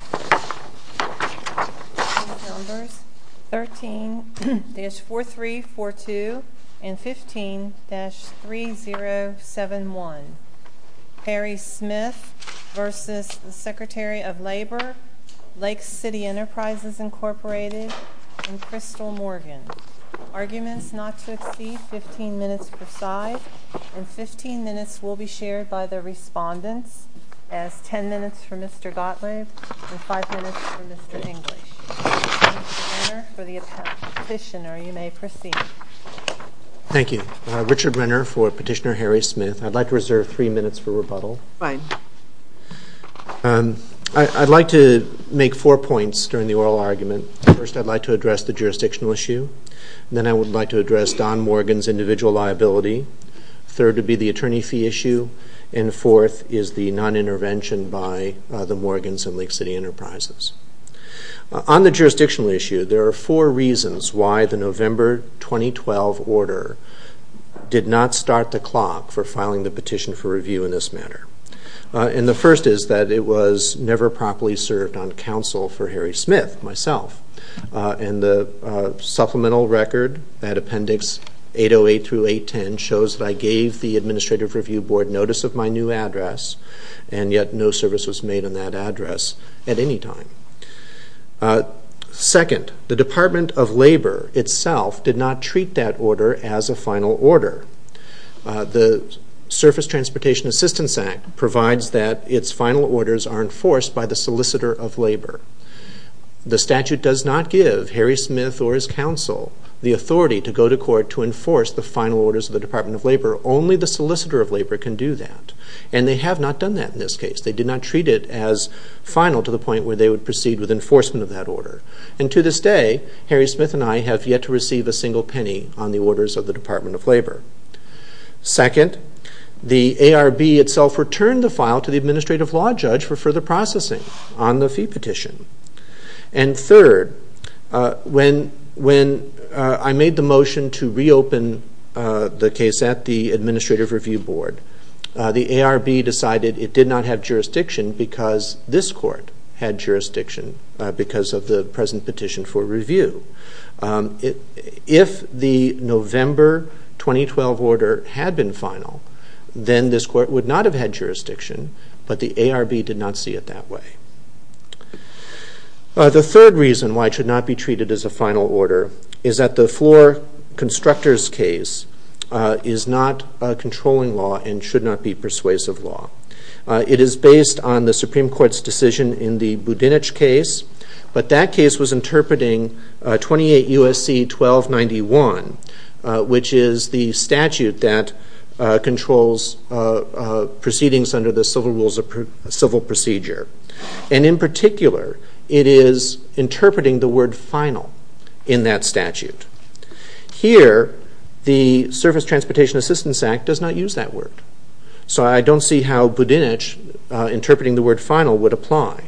Lake City Enterprises, Inc. and Crystal Morgan Arguments not to exceed 15 minutes per side and 15 minutes will be shared by the respondents as 10 minutes for Mr. Gottlieb and 15 minutes for Mr. Gottlieb and 5 minutes for Mr. English Richard Renner for the attorney petitioner, you may proceed Thank you, Richard Renner for petitioner Harry Smith I'd like to reserve 3 minutes for rebuttal I'd like to make 4 points during the oral argument First I'd like to address the jurisdictional issue Then I would like to address Don Morgan's individual liability Third would be the attorney fee issue and fourth is the non-intervention by the Morgans and Lake City Enterprises On the jurisdictional issue, there are 4 reasons why the November 2012 order did not start the clock for filing the petition for review in this matter. And the first is that it was never properly served on counsel for Harry Smith myself. And the supplemental record at Appendix 808-810 shows that I gave the Administrative Review Board notice of my new address and yet no service was made on that address at any time. Second, the Department of Labor itself did not treat that order as a final order The Surface Transportation Assistance Act provides that its final orders are enforced by the solicitor of labor. The statute does not give Harry Smith or his counsel the authority to go to court to enforce the final orders of the Department of Labor. Only the solicitor of labor can do that. And they have not done that in this case. They did not treat it as final to the point where they would proceed with enforcement of that order. And to this day, Harry Smith and I have yet to receive a single penny on the orders of the Department of Labor. Second, the ARB itself returned the file to the Administrative Law Judge for further processing on the fee petition. And third, when I made the motion to reopen the case at the Administrative Review Board the ARB decided it did not have jurisdiction because this court had jurisdiction because of the present petition for review. If the November 2012 order had been final, then this court would not have had jurisdiction, but the ARB did not see it that way. The third reason why it should not be treated as a final order is that the Floor Constructors case is not a controlling law and should not be persuasive law. It is based on the Supreme Court's decision in the Budinich case but that case was interpreting 28 USC 1291, which is the statute that controls proceedings under the Civil Procedure. And in particular, it is interpreting the word final in that statute. Here, the Surface Transportation Assistance Act does not use that word. So I don't see how Budinich interpreting the word final would apply.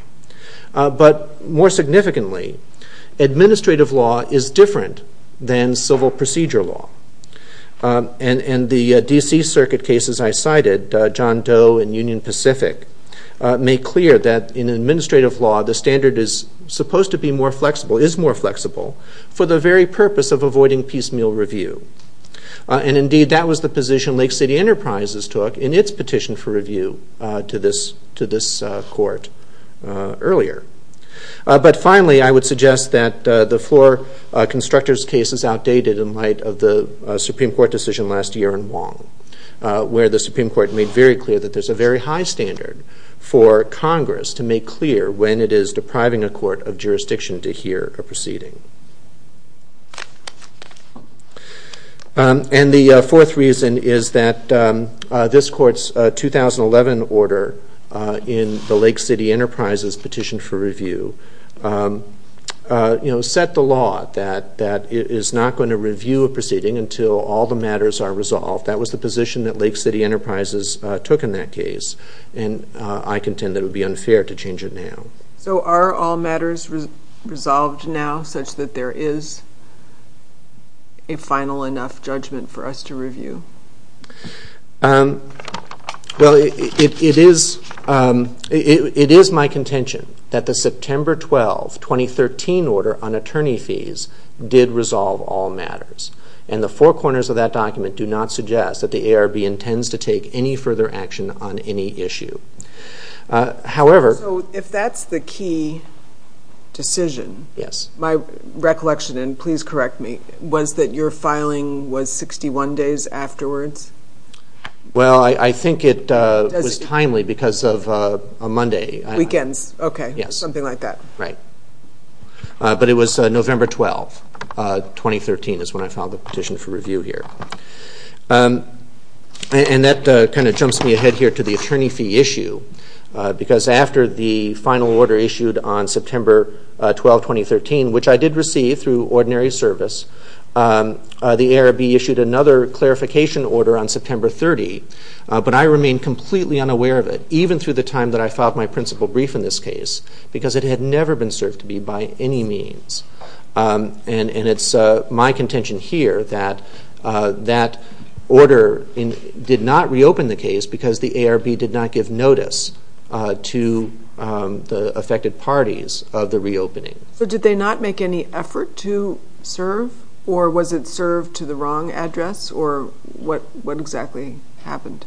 But more significantly, administrative law is different than civil procedure law. And the DC Circuit cases I cited, John Doe and Union Pacific make clear that in administrative law, the standard is supposed to be more flexible, is more flexible for the very purpose of avoiding piecemeal review. And indeed, that was the position Lake City Enterprises took in its petition for review to this court earlier. But finally, I would suggest that the Floor Constructors case is outdated in light of the Supreme Court decision last year in Wong, where the Supreme Court made very clear that there is a very high standard for Congress to make clear when it is depriving a court of jurisdiction to hear a proceeding. And the fourth reason is that this court's 2011 order in the Lake City Enterprises petition for review set the law that it is not going to review a proceeding until all the matters are resolved. That was the position that Lake City Enterprises took in that case. And I contend that it would be unfair to change it now. So are all matters resolved now such that there is a final enough judgment for us to review? Well, it is my contention that the September 12, 2013 order on attorney fees did resolve all matters. And the four corners of that document do not suggest that the ARB intends to take any further action on any issue. So if that's the key decision, my recollection, and please correct me, was that your filing was 61 days afterwards? Well, I think it was timely because of a Monday. Weekends. Okay. Something like that. Right. But it was November 12, 2013 is when I filed the petition for review here. And that kind of jumps me ahead here to the attorney fee issue because after the final order issued on September 12, 2013, which I did receive through ordinary service, the ARB issued another clarification order on September 30, but I remained completely unaware of it, even through the time that I filed my principal brief in this case, because it had never been served to me by any means. And it's my contention here that that order did not reopen the case because the ARB did not give notice to the affected parties of the reopening. So did they not make any effort to serve to the wrong address, or what exactly happened?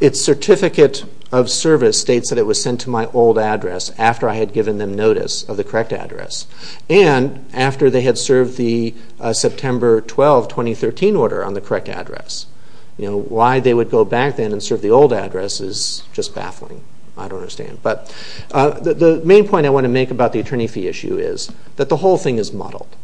Its certificate of service states that it was sent to my old address after I had given them notice of the correct address. And after they had served the September 12, 2013 order on the correct address. Why they would go back then and serve the old address is just baffling. I don't understand. But the main point I want to make about the attorney fee issue is that the whole thing is muddled.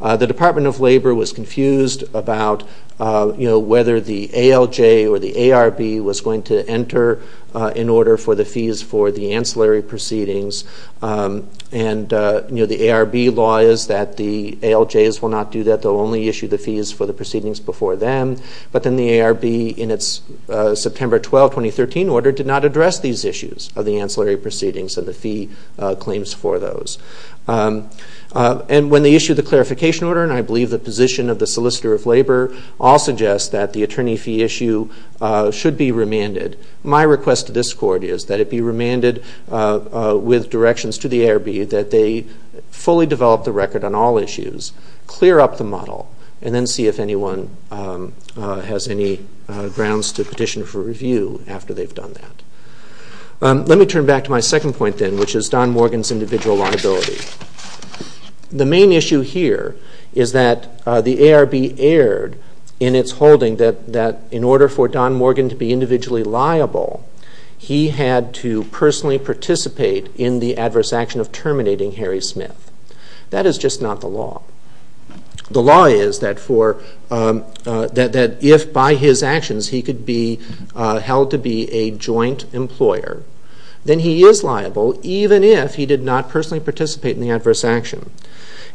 The Department of Labor was confused about whether the ALJ or the ARB was going to enter an order for the fees for the ancillary proceedings and the ARB law is that the ALJs will not do that. They'll only issue the fees for the proceedings before them. But then the ARB in its September 12, 2013 order did not address these issues of the ancillary proceedings and the fee claims for those. And when they issued the clarification order, and I believe the position of the Solicitor of Labor all suggest that the attorney fee issue should be remanded. My request to this Court is that it be remanded with directions to the ARB that they fully develop the record on all issues, clear up the model, and then see if anyone has any grounds to petition for review after they've done that. Let me turn back to my second point then, which is Don Morgan's individual liability. The main issue here is that the ARB erred in its holding that in order for Don Morgan to be individually liable he had to personally participate in the adverse action of terminating Harry Smith. That is just not the law. The law is that if by his actions he could be held to be a joint employer, then he is liable even if he did not personally participate in the adverse action.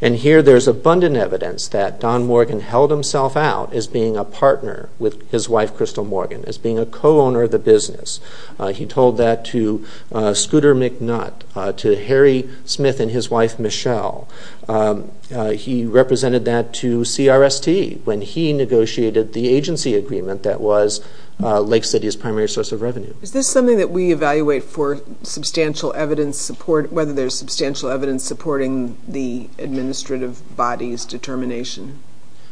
And here there's abundant evidence that Don Morgan held himself out as being a partner with his wife Crystal Morgan, as being a co-owner of the business. He told that to Scooter McNutt, to Harry Smith and his wife Michelle. He represented that to CRST when he negotiated the agency agreement that was Lake City's primary source of revenue. Is this something that we evaluate for substantial evidence support, whether there's substantial evidence supporting the administrative body's determination?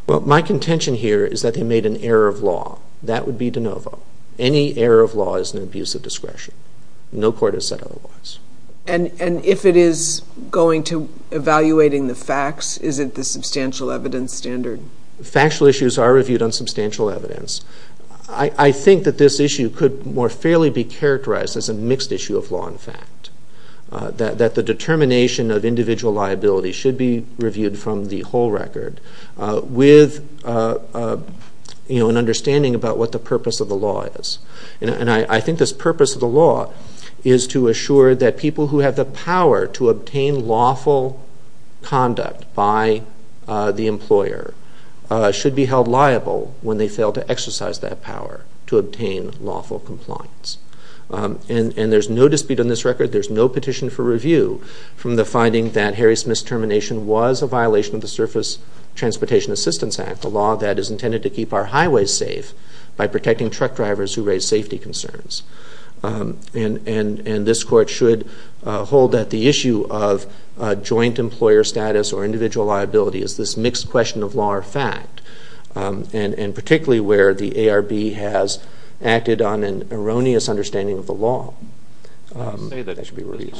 My contention here is that they made an error of law. That would be de novo. Any error of law is an abuse of discretion. No court has said otherwise. And if it is going to evaluating the facts, is it the substantial evidence standard? Factual issues are reviewed on substantial evidence. I think that this issue could more fairly be characterized as a mixed issue of law and fact. That the determination of individual liability should be reviewed from the whole record with an understanding about what the purpose of the law is. And I think this purpose of the law is to assure that people who have the power to obtain lawful conduct by the employer should be held liable when they fail to exercise that power to obtain lawful compliance. And there's no dispute on this record. There's no petition for review from the finding that Harry Smith's termination was a violation of the Surface Transportation Assistance Act, a law that is intended to keep our highways safe by protecting truck drivers who raise safety concerns. And this court should hold that the issue of joint employer status or individual liability is this mixed question of law or fact. And particularly where the ARB has acted on an erroneous understanding of the law.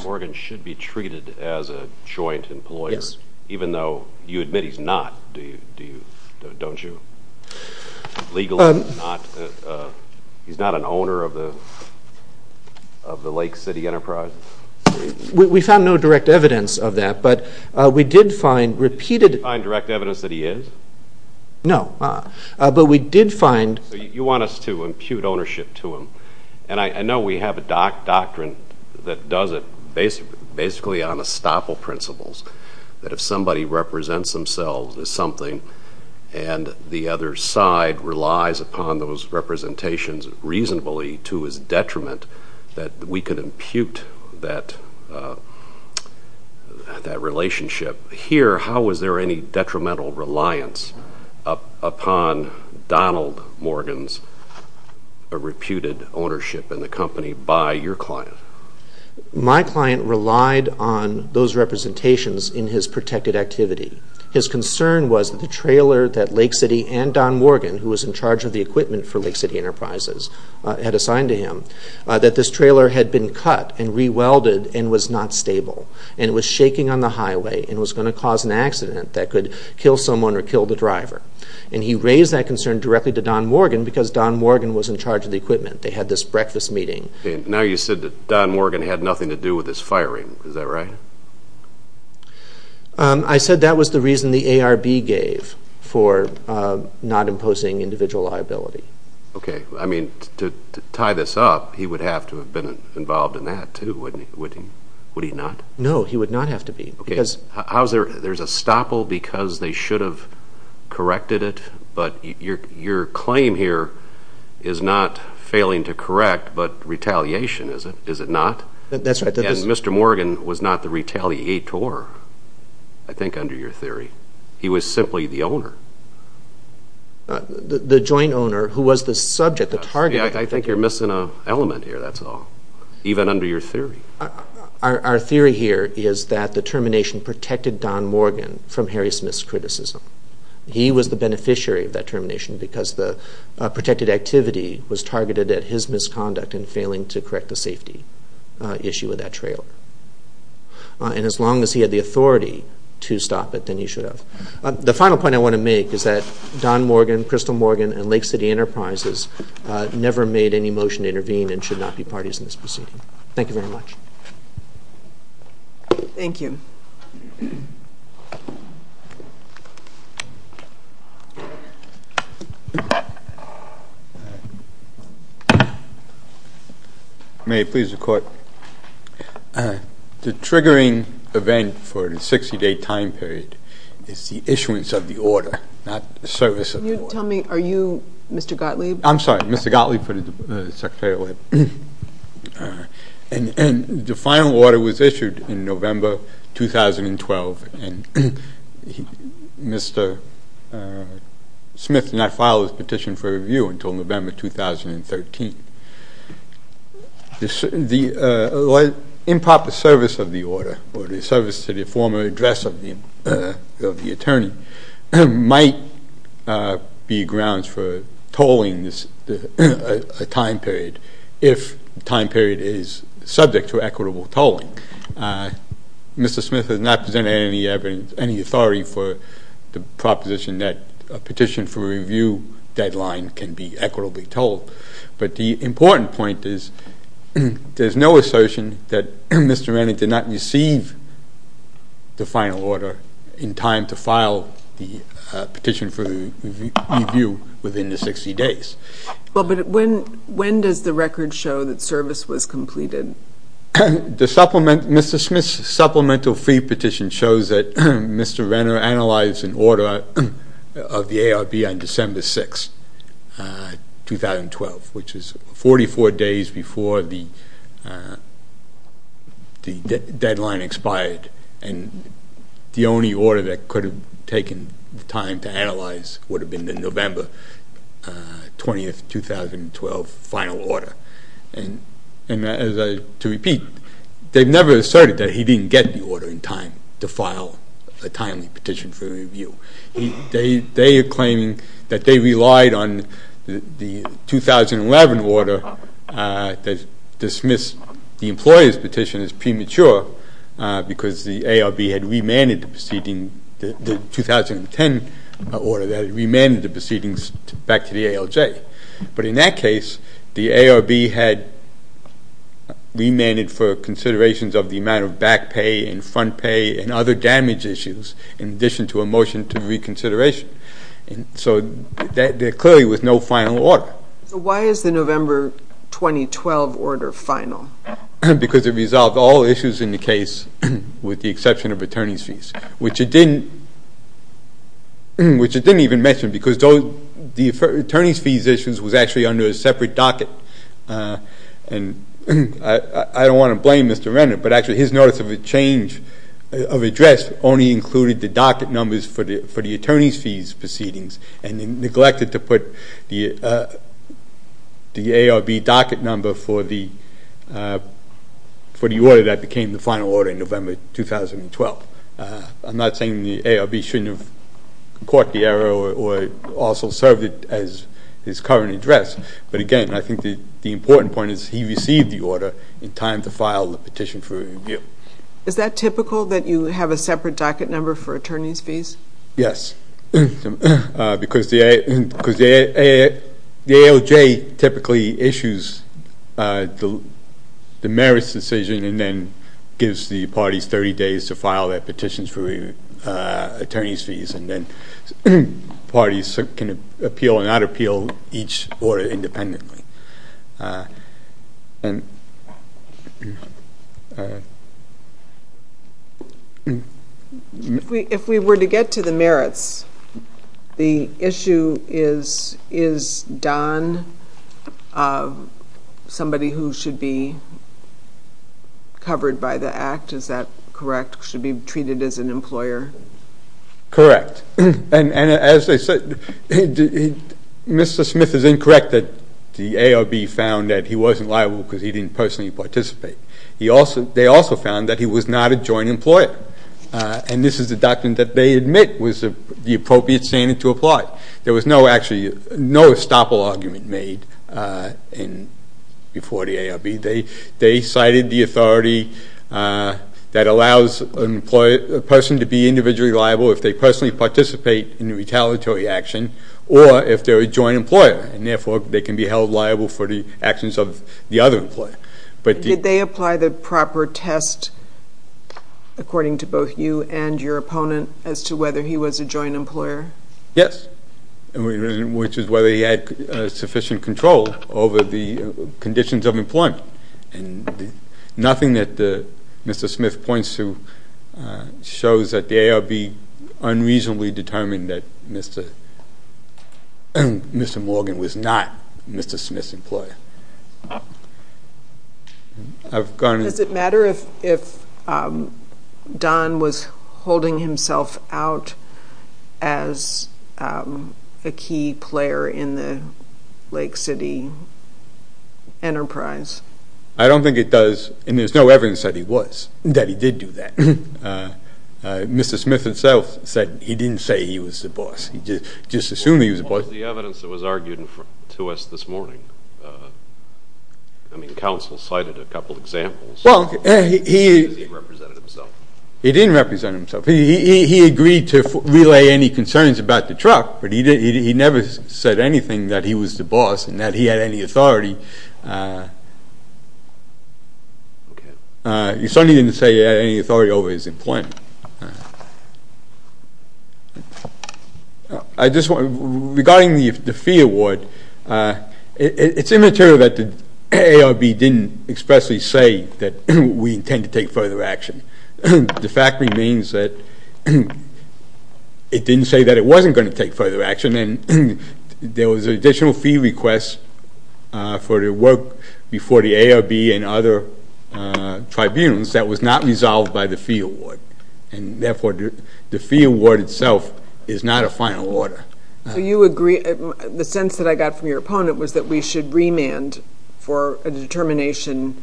Morgan should be treated as a joint employer even though you admit he's not, don't you? He's not an owner of the Lake City Enterprise? We found no direct evidence of that, but we did find repeated... You didn't find direct evidence that he is? No, but we did find... So you want us to impute ownership to him? And I know we have a doctrine that does it basically on estoppel principles, that if somebody represents themselves as something and the other side relies upon those representations reasonably to his detriment that we could impute that relationship. Here, how was there any detrimental reliance upon Donald Morgan's reputed ownership in the company by your client? My client relied on those representations in his protected activity. His concern was the trailer that Lake City and Don Morgan who was in charge of the equipment for Lake City Enterprises had assigned to him, that this trailer had been cut and re-welded and was not stable and was shaking on the highway and was going to cause an accident that could kill someone or kill the driver. And he raised that concern directly to Don Morgan because Don Morgan was in charge of the equipment. They had this breakfast meeting. Now you said that Don Morgan had nothing to do with this firing. Is that right? I said that was the reason the ARB gave for not imposing individual liability. Okay, I mean to tie this up he would have to have been involved in that too, wouldn't he? Would he not? No, he would not have to be. There's a stopple because they should have corrected it but your claim here is not failing to correct but retaliation, is it not? And Mr. Morgan was not the retaliator I think under your theory. He was simply the owner. The joint owner who was the subject, the target. I think you're missing an element here, that's all. Even under your theory? Our theory here is that the termination protected Don Morgan from Harry Smith's criticism. He was the beneficiary of that termination because the protected activity was targeted at his misconduct in failing to correct the safety issue with that trailer. And as long as he had the authority to stop it then he should have. The final point I want to make is that Don Morgan, Crystal Morgan and Lake City Enterprises never made any motion to intervene and should not be parties in this proceeding. Thank you very much. Thank you. May it please the Court. The triggering event for the 60 day time period is the issuance of the order, not the service of the order. Tell me, are you Mr. Gottlieb? I'm sorry, Mr. Gottlieb for the Secretary of Labor. The final order was issued in November 2012 and Mr. Smith did not file his petition for review until November 2013. The improper service of the order or the service to the former address of the attorney might be grounds for tolling a time period if the time period is subject to equitable tolling. Mr. Smith has not presented any authority for the proposition that a petition for review deadline can be equitably tolled. But the important point is there is no assertion that Mr. Manning did not receive the final order in time to file the petition for review within the 60 days. When does the record show that service was completed? Mr. Smith's supplemental fee petition shows that Mr. Renner analyzed an order of the ARB on December 6, 2012, which is 44 days before the deadline expired. The only order that could have taken time to analyze would have been the November 20, 2012 final order. To repeat, they've never asserted that he didn't get the order in time to file a timely petition for review. They are claiming that they relied on the dismissed the employer's petition as premature because the ARB had remanded the proceeding the 2010 order that remanded the proceedings back to the ALJ. But in that case, the ARB had remanded for considerations of the amount of back pay and front pay and other damage issues in addition to a motion to reconsideration. So there clearly was no final order. So why is the November 2012 order final? Because it resolved all issues in the case with the exception of attorney's fees, which it didn't even mention because the attorney's fees issue was actually under a separate docket. I don't want to blame Mr. Renner, but actually his notice of a change of address only included the docket numbers for the attorney's fees proceedings and neglected to put the ARB docket number for the order that became the final order in November 2012. I'm not saying the ARB shouldn't have caught the error or also served it as his current address, but again, I think the important point is he received the order in time to file the petition for review. Is that typical that you have a separate docket number for because the ALJ typically issues the merits decision and then gives the parties 30 days to file their petitions for attorney's fees and then parties can appeal and not appeal each order independently. If we were to get to the merits, the issue is Don, somebody who should be covered by the act, is that correct, should be treated as an employer? Correct. And as they said, Mr. Smith is incorrect that the ARB found that he wasn't liable because he didn't personally participate. They also found that he was not a joint employer and this is the doctrine that they admit was the appropriate standard to apply. There was no actually no estoppel argument made before the ARB. They cited the authority that allows a person to be individually liable if they personally participate in a retaliatory action or if they're a joint employer and therefore they can be held liable for the actions of the other employer. Did they apply the proper test according to both you and your opponent as to whether he was a joint employer? Yes, which is whether he had sufficient control over the conditions of employment and nothing that Mr. Smith points to shows that the ARB unreasonably determined that Mr. Morgan was not Mr. Smith's employer. Does it matter if Don was holding himself out as a key player in the Lake City enterprise? I don't think it does and there's no evidence that he was that he did do that. Mr. Smith himself said he didn't say he was the boss. He just assumed he was the boss. What was the evidence that was argued to us this morning? I mean, counsel cited a couple of examples. He didn't represent himself. He agreed to relay any concerns about the truck but he never said anything that he was the boss and that he had any authority. He certainly didn't say he had any authority over his employment. Regarding the fee award, it's immaterial that the ARB didn't expressly say that we intend to take further action. The fact remains that it didn't say that it wasn't going to take further action and there was an additional fee request for the work before the ARB and other tribunals that was not resolved by the fee award. And therefore, the fee award itself is not a final order. The sense that I got from your opponent was that we should remand for a determination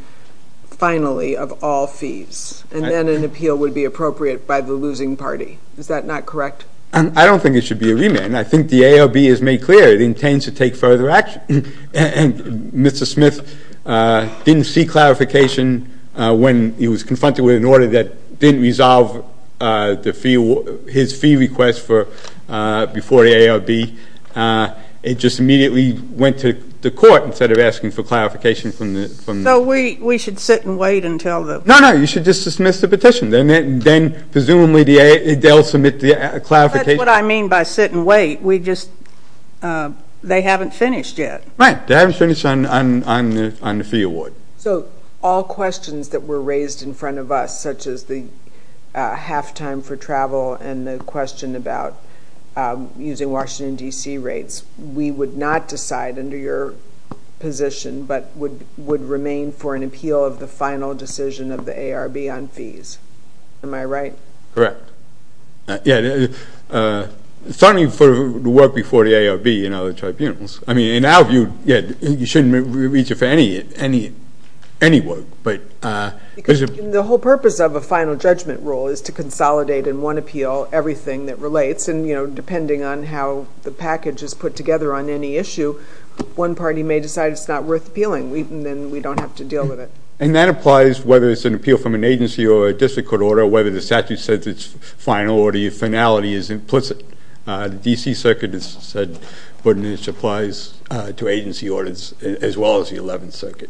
finally of all fees and then an appeal would be appropriate by the losing party. Is that not correct? I don't think it should be a remand. I think the ARB has made clear it intends to take further action. Mr. Smith didn't see clarification when he was confronted with an order that didn't resolve his fee request before the ARB. It just immediately went to the court instead of asking for clarification from the... So we should sit and wait until the... No, no. You should just dismiss the petition. Then presumably they'll submit the clarification. That's what I mean by sit and wait. They haven't finished yet. Right. They haven't finished on the fee award. So all questions that were raised in front of us, such as the halftime for travel and the question about using Washington, D.C. rates, we would not decide under your position but would remain for an appeal of the final decision of the ARB on fees. Am I right? Correct. Certainly for the work before the ARB and other tribunals. I mean, in our view, you shouldn't reach it for any work. The whole purpose of a final judgment rule is to consolidate in one appeal everything that relates and depending on how the package is put together on any issue, one party may decide it's not worth appealing. Then we don't have to deal with it. And that applies whether it's an appeal from an agency or a district court order or whether the statute says it's final or the finality is implicit. The D.C. Circuit has said it applies to agency orders as well as the 11th Circuit.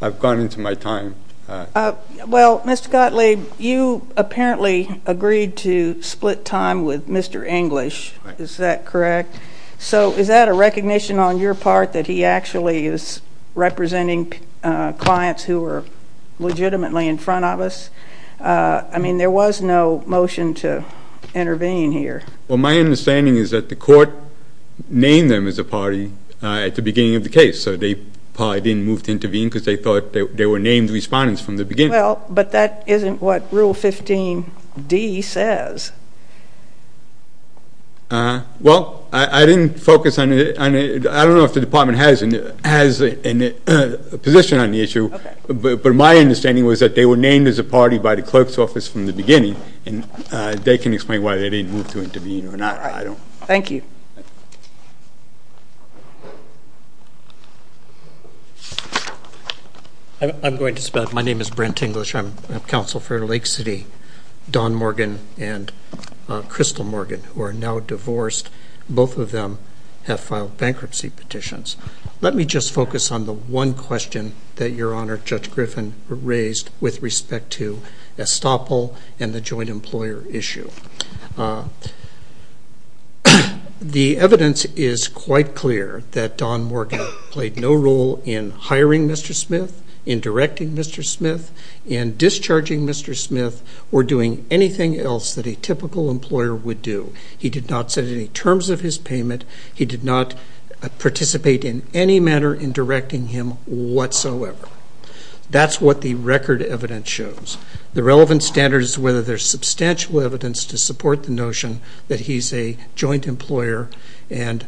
I've gone into my time. Well, Mr. Gottlieb, you apparently agreed to split time with Mr. English. Is that correct? So is that a recognition on your part that he actually is representing clients who are legitimately in front of us? I mean, there was no motion to intervene here. Well, my understanding is that the court named them as a party at the beginning of the case. So they probably didn't move to intervene because they thought they were named respondents from the beginning. Well, but that isn't what Rule 15D says. Uh-huh. Well, I didn't focus on it. I don't know if the Department has a position on the issue. But my understanding was that they were named as a party by the clerk's office from the beginning, and they can explain why they didn't move to intervene or not. Thank you. I'm going to split. My name is Brent English. I'm counsel for Lake City, Don Morgan and Crystal Morgan, who are now divorced. Both of them have filed bankruptcy petitions. Let me just focus on the one question that Your Honor, Judge Griffin raised with respect to estoppel and the joint employer issue. The evidence is quite clear that Don Morgan played no role in hiring Mr. Smith, in directing Mr. Smith, in discharging Mr. Smith or doing anything else that a typical employer would do. He did not set any terms of his in any manner in directing him whatsoever. That's what the record evidence shows. The relevant standard is whether there's substantial evidence to support the notion that he's a joint employer and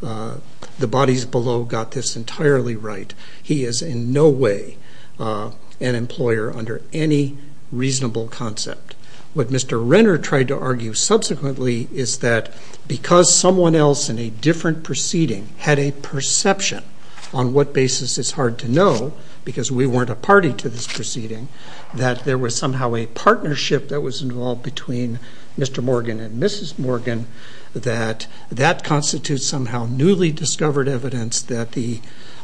the bodies below got this entirely right. He is in no way an employer under any reasonable concept. What Mr. Renner tried to argue subsequently is that because someone else in a different proceeding had a perception on what basis is hard to know, because we weren't a party to this proceeding, that there was somehow a partnership that was involved between Mr. Morgan and Mrs. Morgan, that that constitutes somehow newly discovered evidence that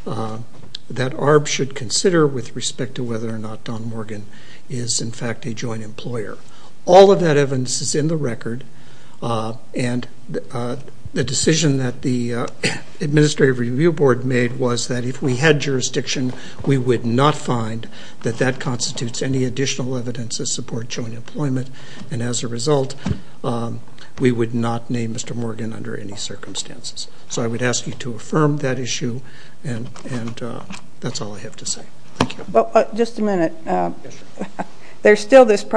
ARB should consider with respect to whether or not Don Morgan is in fact a joint employer. All of that evidence is in the record and the decision that the Administrative Review Board made was that if we had jurisdiction, we would not find that that constitutes any additional evidence to support joint employment and as a result we would not name Mr. Morgan under any circumstances. So I would ask you to affirm that issue and that's all I have to say. Thank you. Just a minute. There's still this The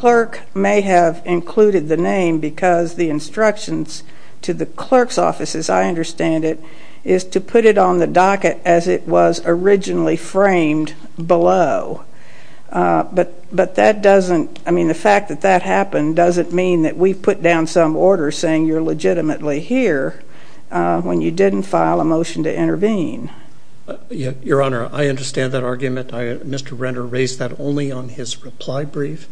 clerk may have included the name because the instructions to the clerk's office, as I understand it, is to put it on the docket as it was originally framed below. But that doesn't, I mean the fact that that happened doesn't mean that we've put down some order saying you're legitimately here when you didn't file a motion to intervene. Your Honor, I raised that only on his reply brief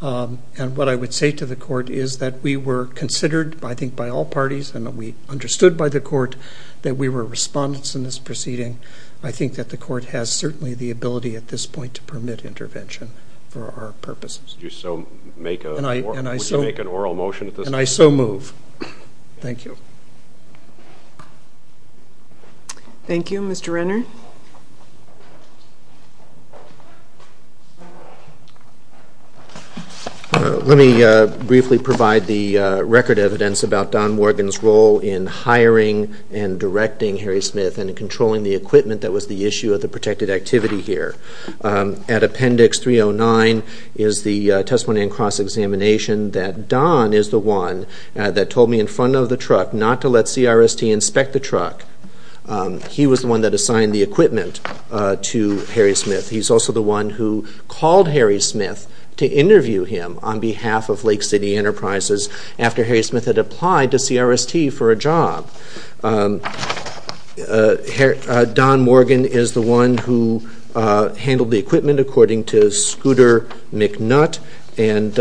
and what I would say to the court is that we were considered I think by all parties and we understood by the court that we were respondents in this proceeding. I think that the court has certainly the ability at this point to permit intervention for our purposes. And I so move. Thank you. Thank you. Mr. Renner? Let me briefly provide the record evidence about Don Morgan's role in hiring and directing Harry Smith and controlling the equipment that was the issue of the protected activity here. At appendix 309 is the testimony and cross-examination that Don is the one that told me in front of the truck not to let CRST inspect the truck. He was the one that assigned the equipment to Harry Smith. He's also the one who called Harry Smith to interview him on behalf of Lake City Enterprises after Harry Smith had applied to CRST for a job. Don Morgan is the one who handled the equipment according to Scooter McNutt and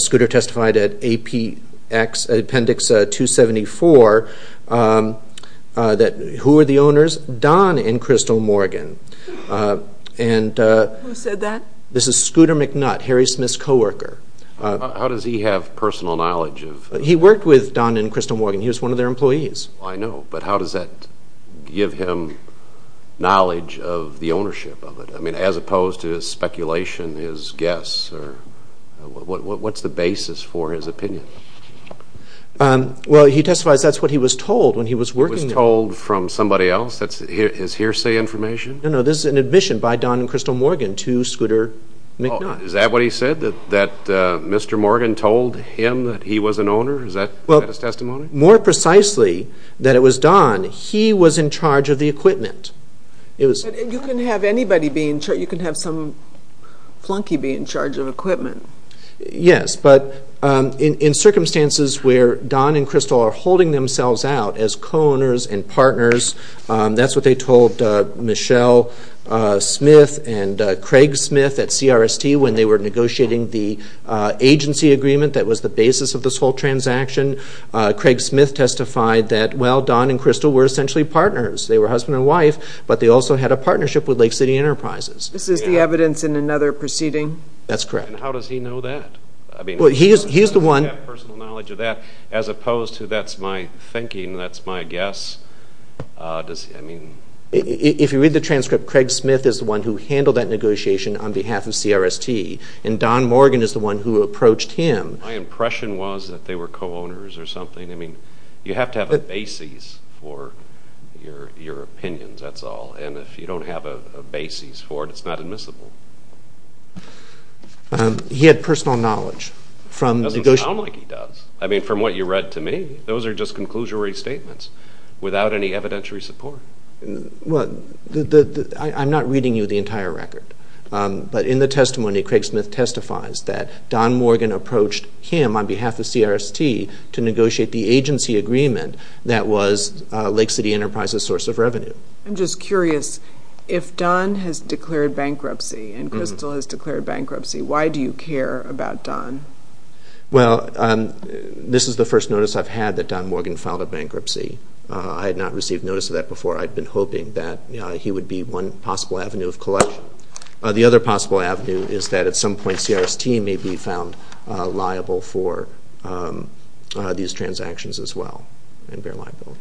Scooter testified at appendix 274 that who are the owners? Don and Crystal Morgan. Who said that? This is Scooter McNutt, Harry Smith's co-worker. How does he have personal knowledge of... He worked with Don and Crystal Morgan. He was one of their employees. I know, but how does that give him knowledge of the ownership of it? I mean, as opposed to his speculation, his guess, what's the basis for his opinion? Well, he testifies that's what he was told when he was working there. He was told from somebody else? That's his hearsay information? No, no. This is an admission by Don and Crystal Morgan to Scooter McNutt. Is that what he said? That Mr. Morgan told him that he was an owner? Is that his testimony? More precisely, that it was Don. He was in charge of the equipment. You can have anybody be in charge. You can have some flunky be in charge of equipment. Yes, but in circumstances where Don and Crystal are holding themselves out as co-owners and partners, that's what they told Michelle Smith and Craig Smith at CRST when they were negotiating the agency agreement that was the basis of this whole transaction. Craig Smith testified that, well, Don and Crystal were essentially partners. They were husband and wife, but they also had a partnership with Lake City Enterprises. This is the evidence in another proceeding? That's correct. And how does he know that? Well, he's the one I have personal knowledge of that, as opposed to that's my thinking, that's my guess. If you read the transcript, Craig Smith is the one who handled that negotiation on behalf of CRST, and Don Morgan is the one who approached him. My impression was that they were co-owners or something. I mean, you have to have a basis for your opinions, that's all, and if you don't have a basis for it, it's not admissible. He had personal knowledge. It doesn't sound like he does. I mean, from what you read to me, those are just conclusory statements without any evidentiary support. I'm not reading you the entire record, but in the testimony, Craig Smith testifies that Don Morgan approached him on behalf of CRST to negotiate the agency agreement that was Lake City Enterprise's source of revenue. I'm just curious, if Don has declared bankruptcy and Crystal has declared bankruptcy, why do you care about Don? Well, this is the first notice I've had that Don Morgan filed a bankruptcy. I had not received notice of that before. I'd been hoping that he would be one possible avenue of collection. The other possible avenue is that at some point CRST may be found liable for these transactions as well, and they're liable.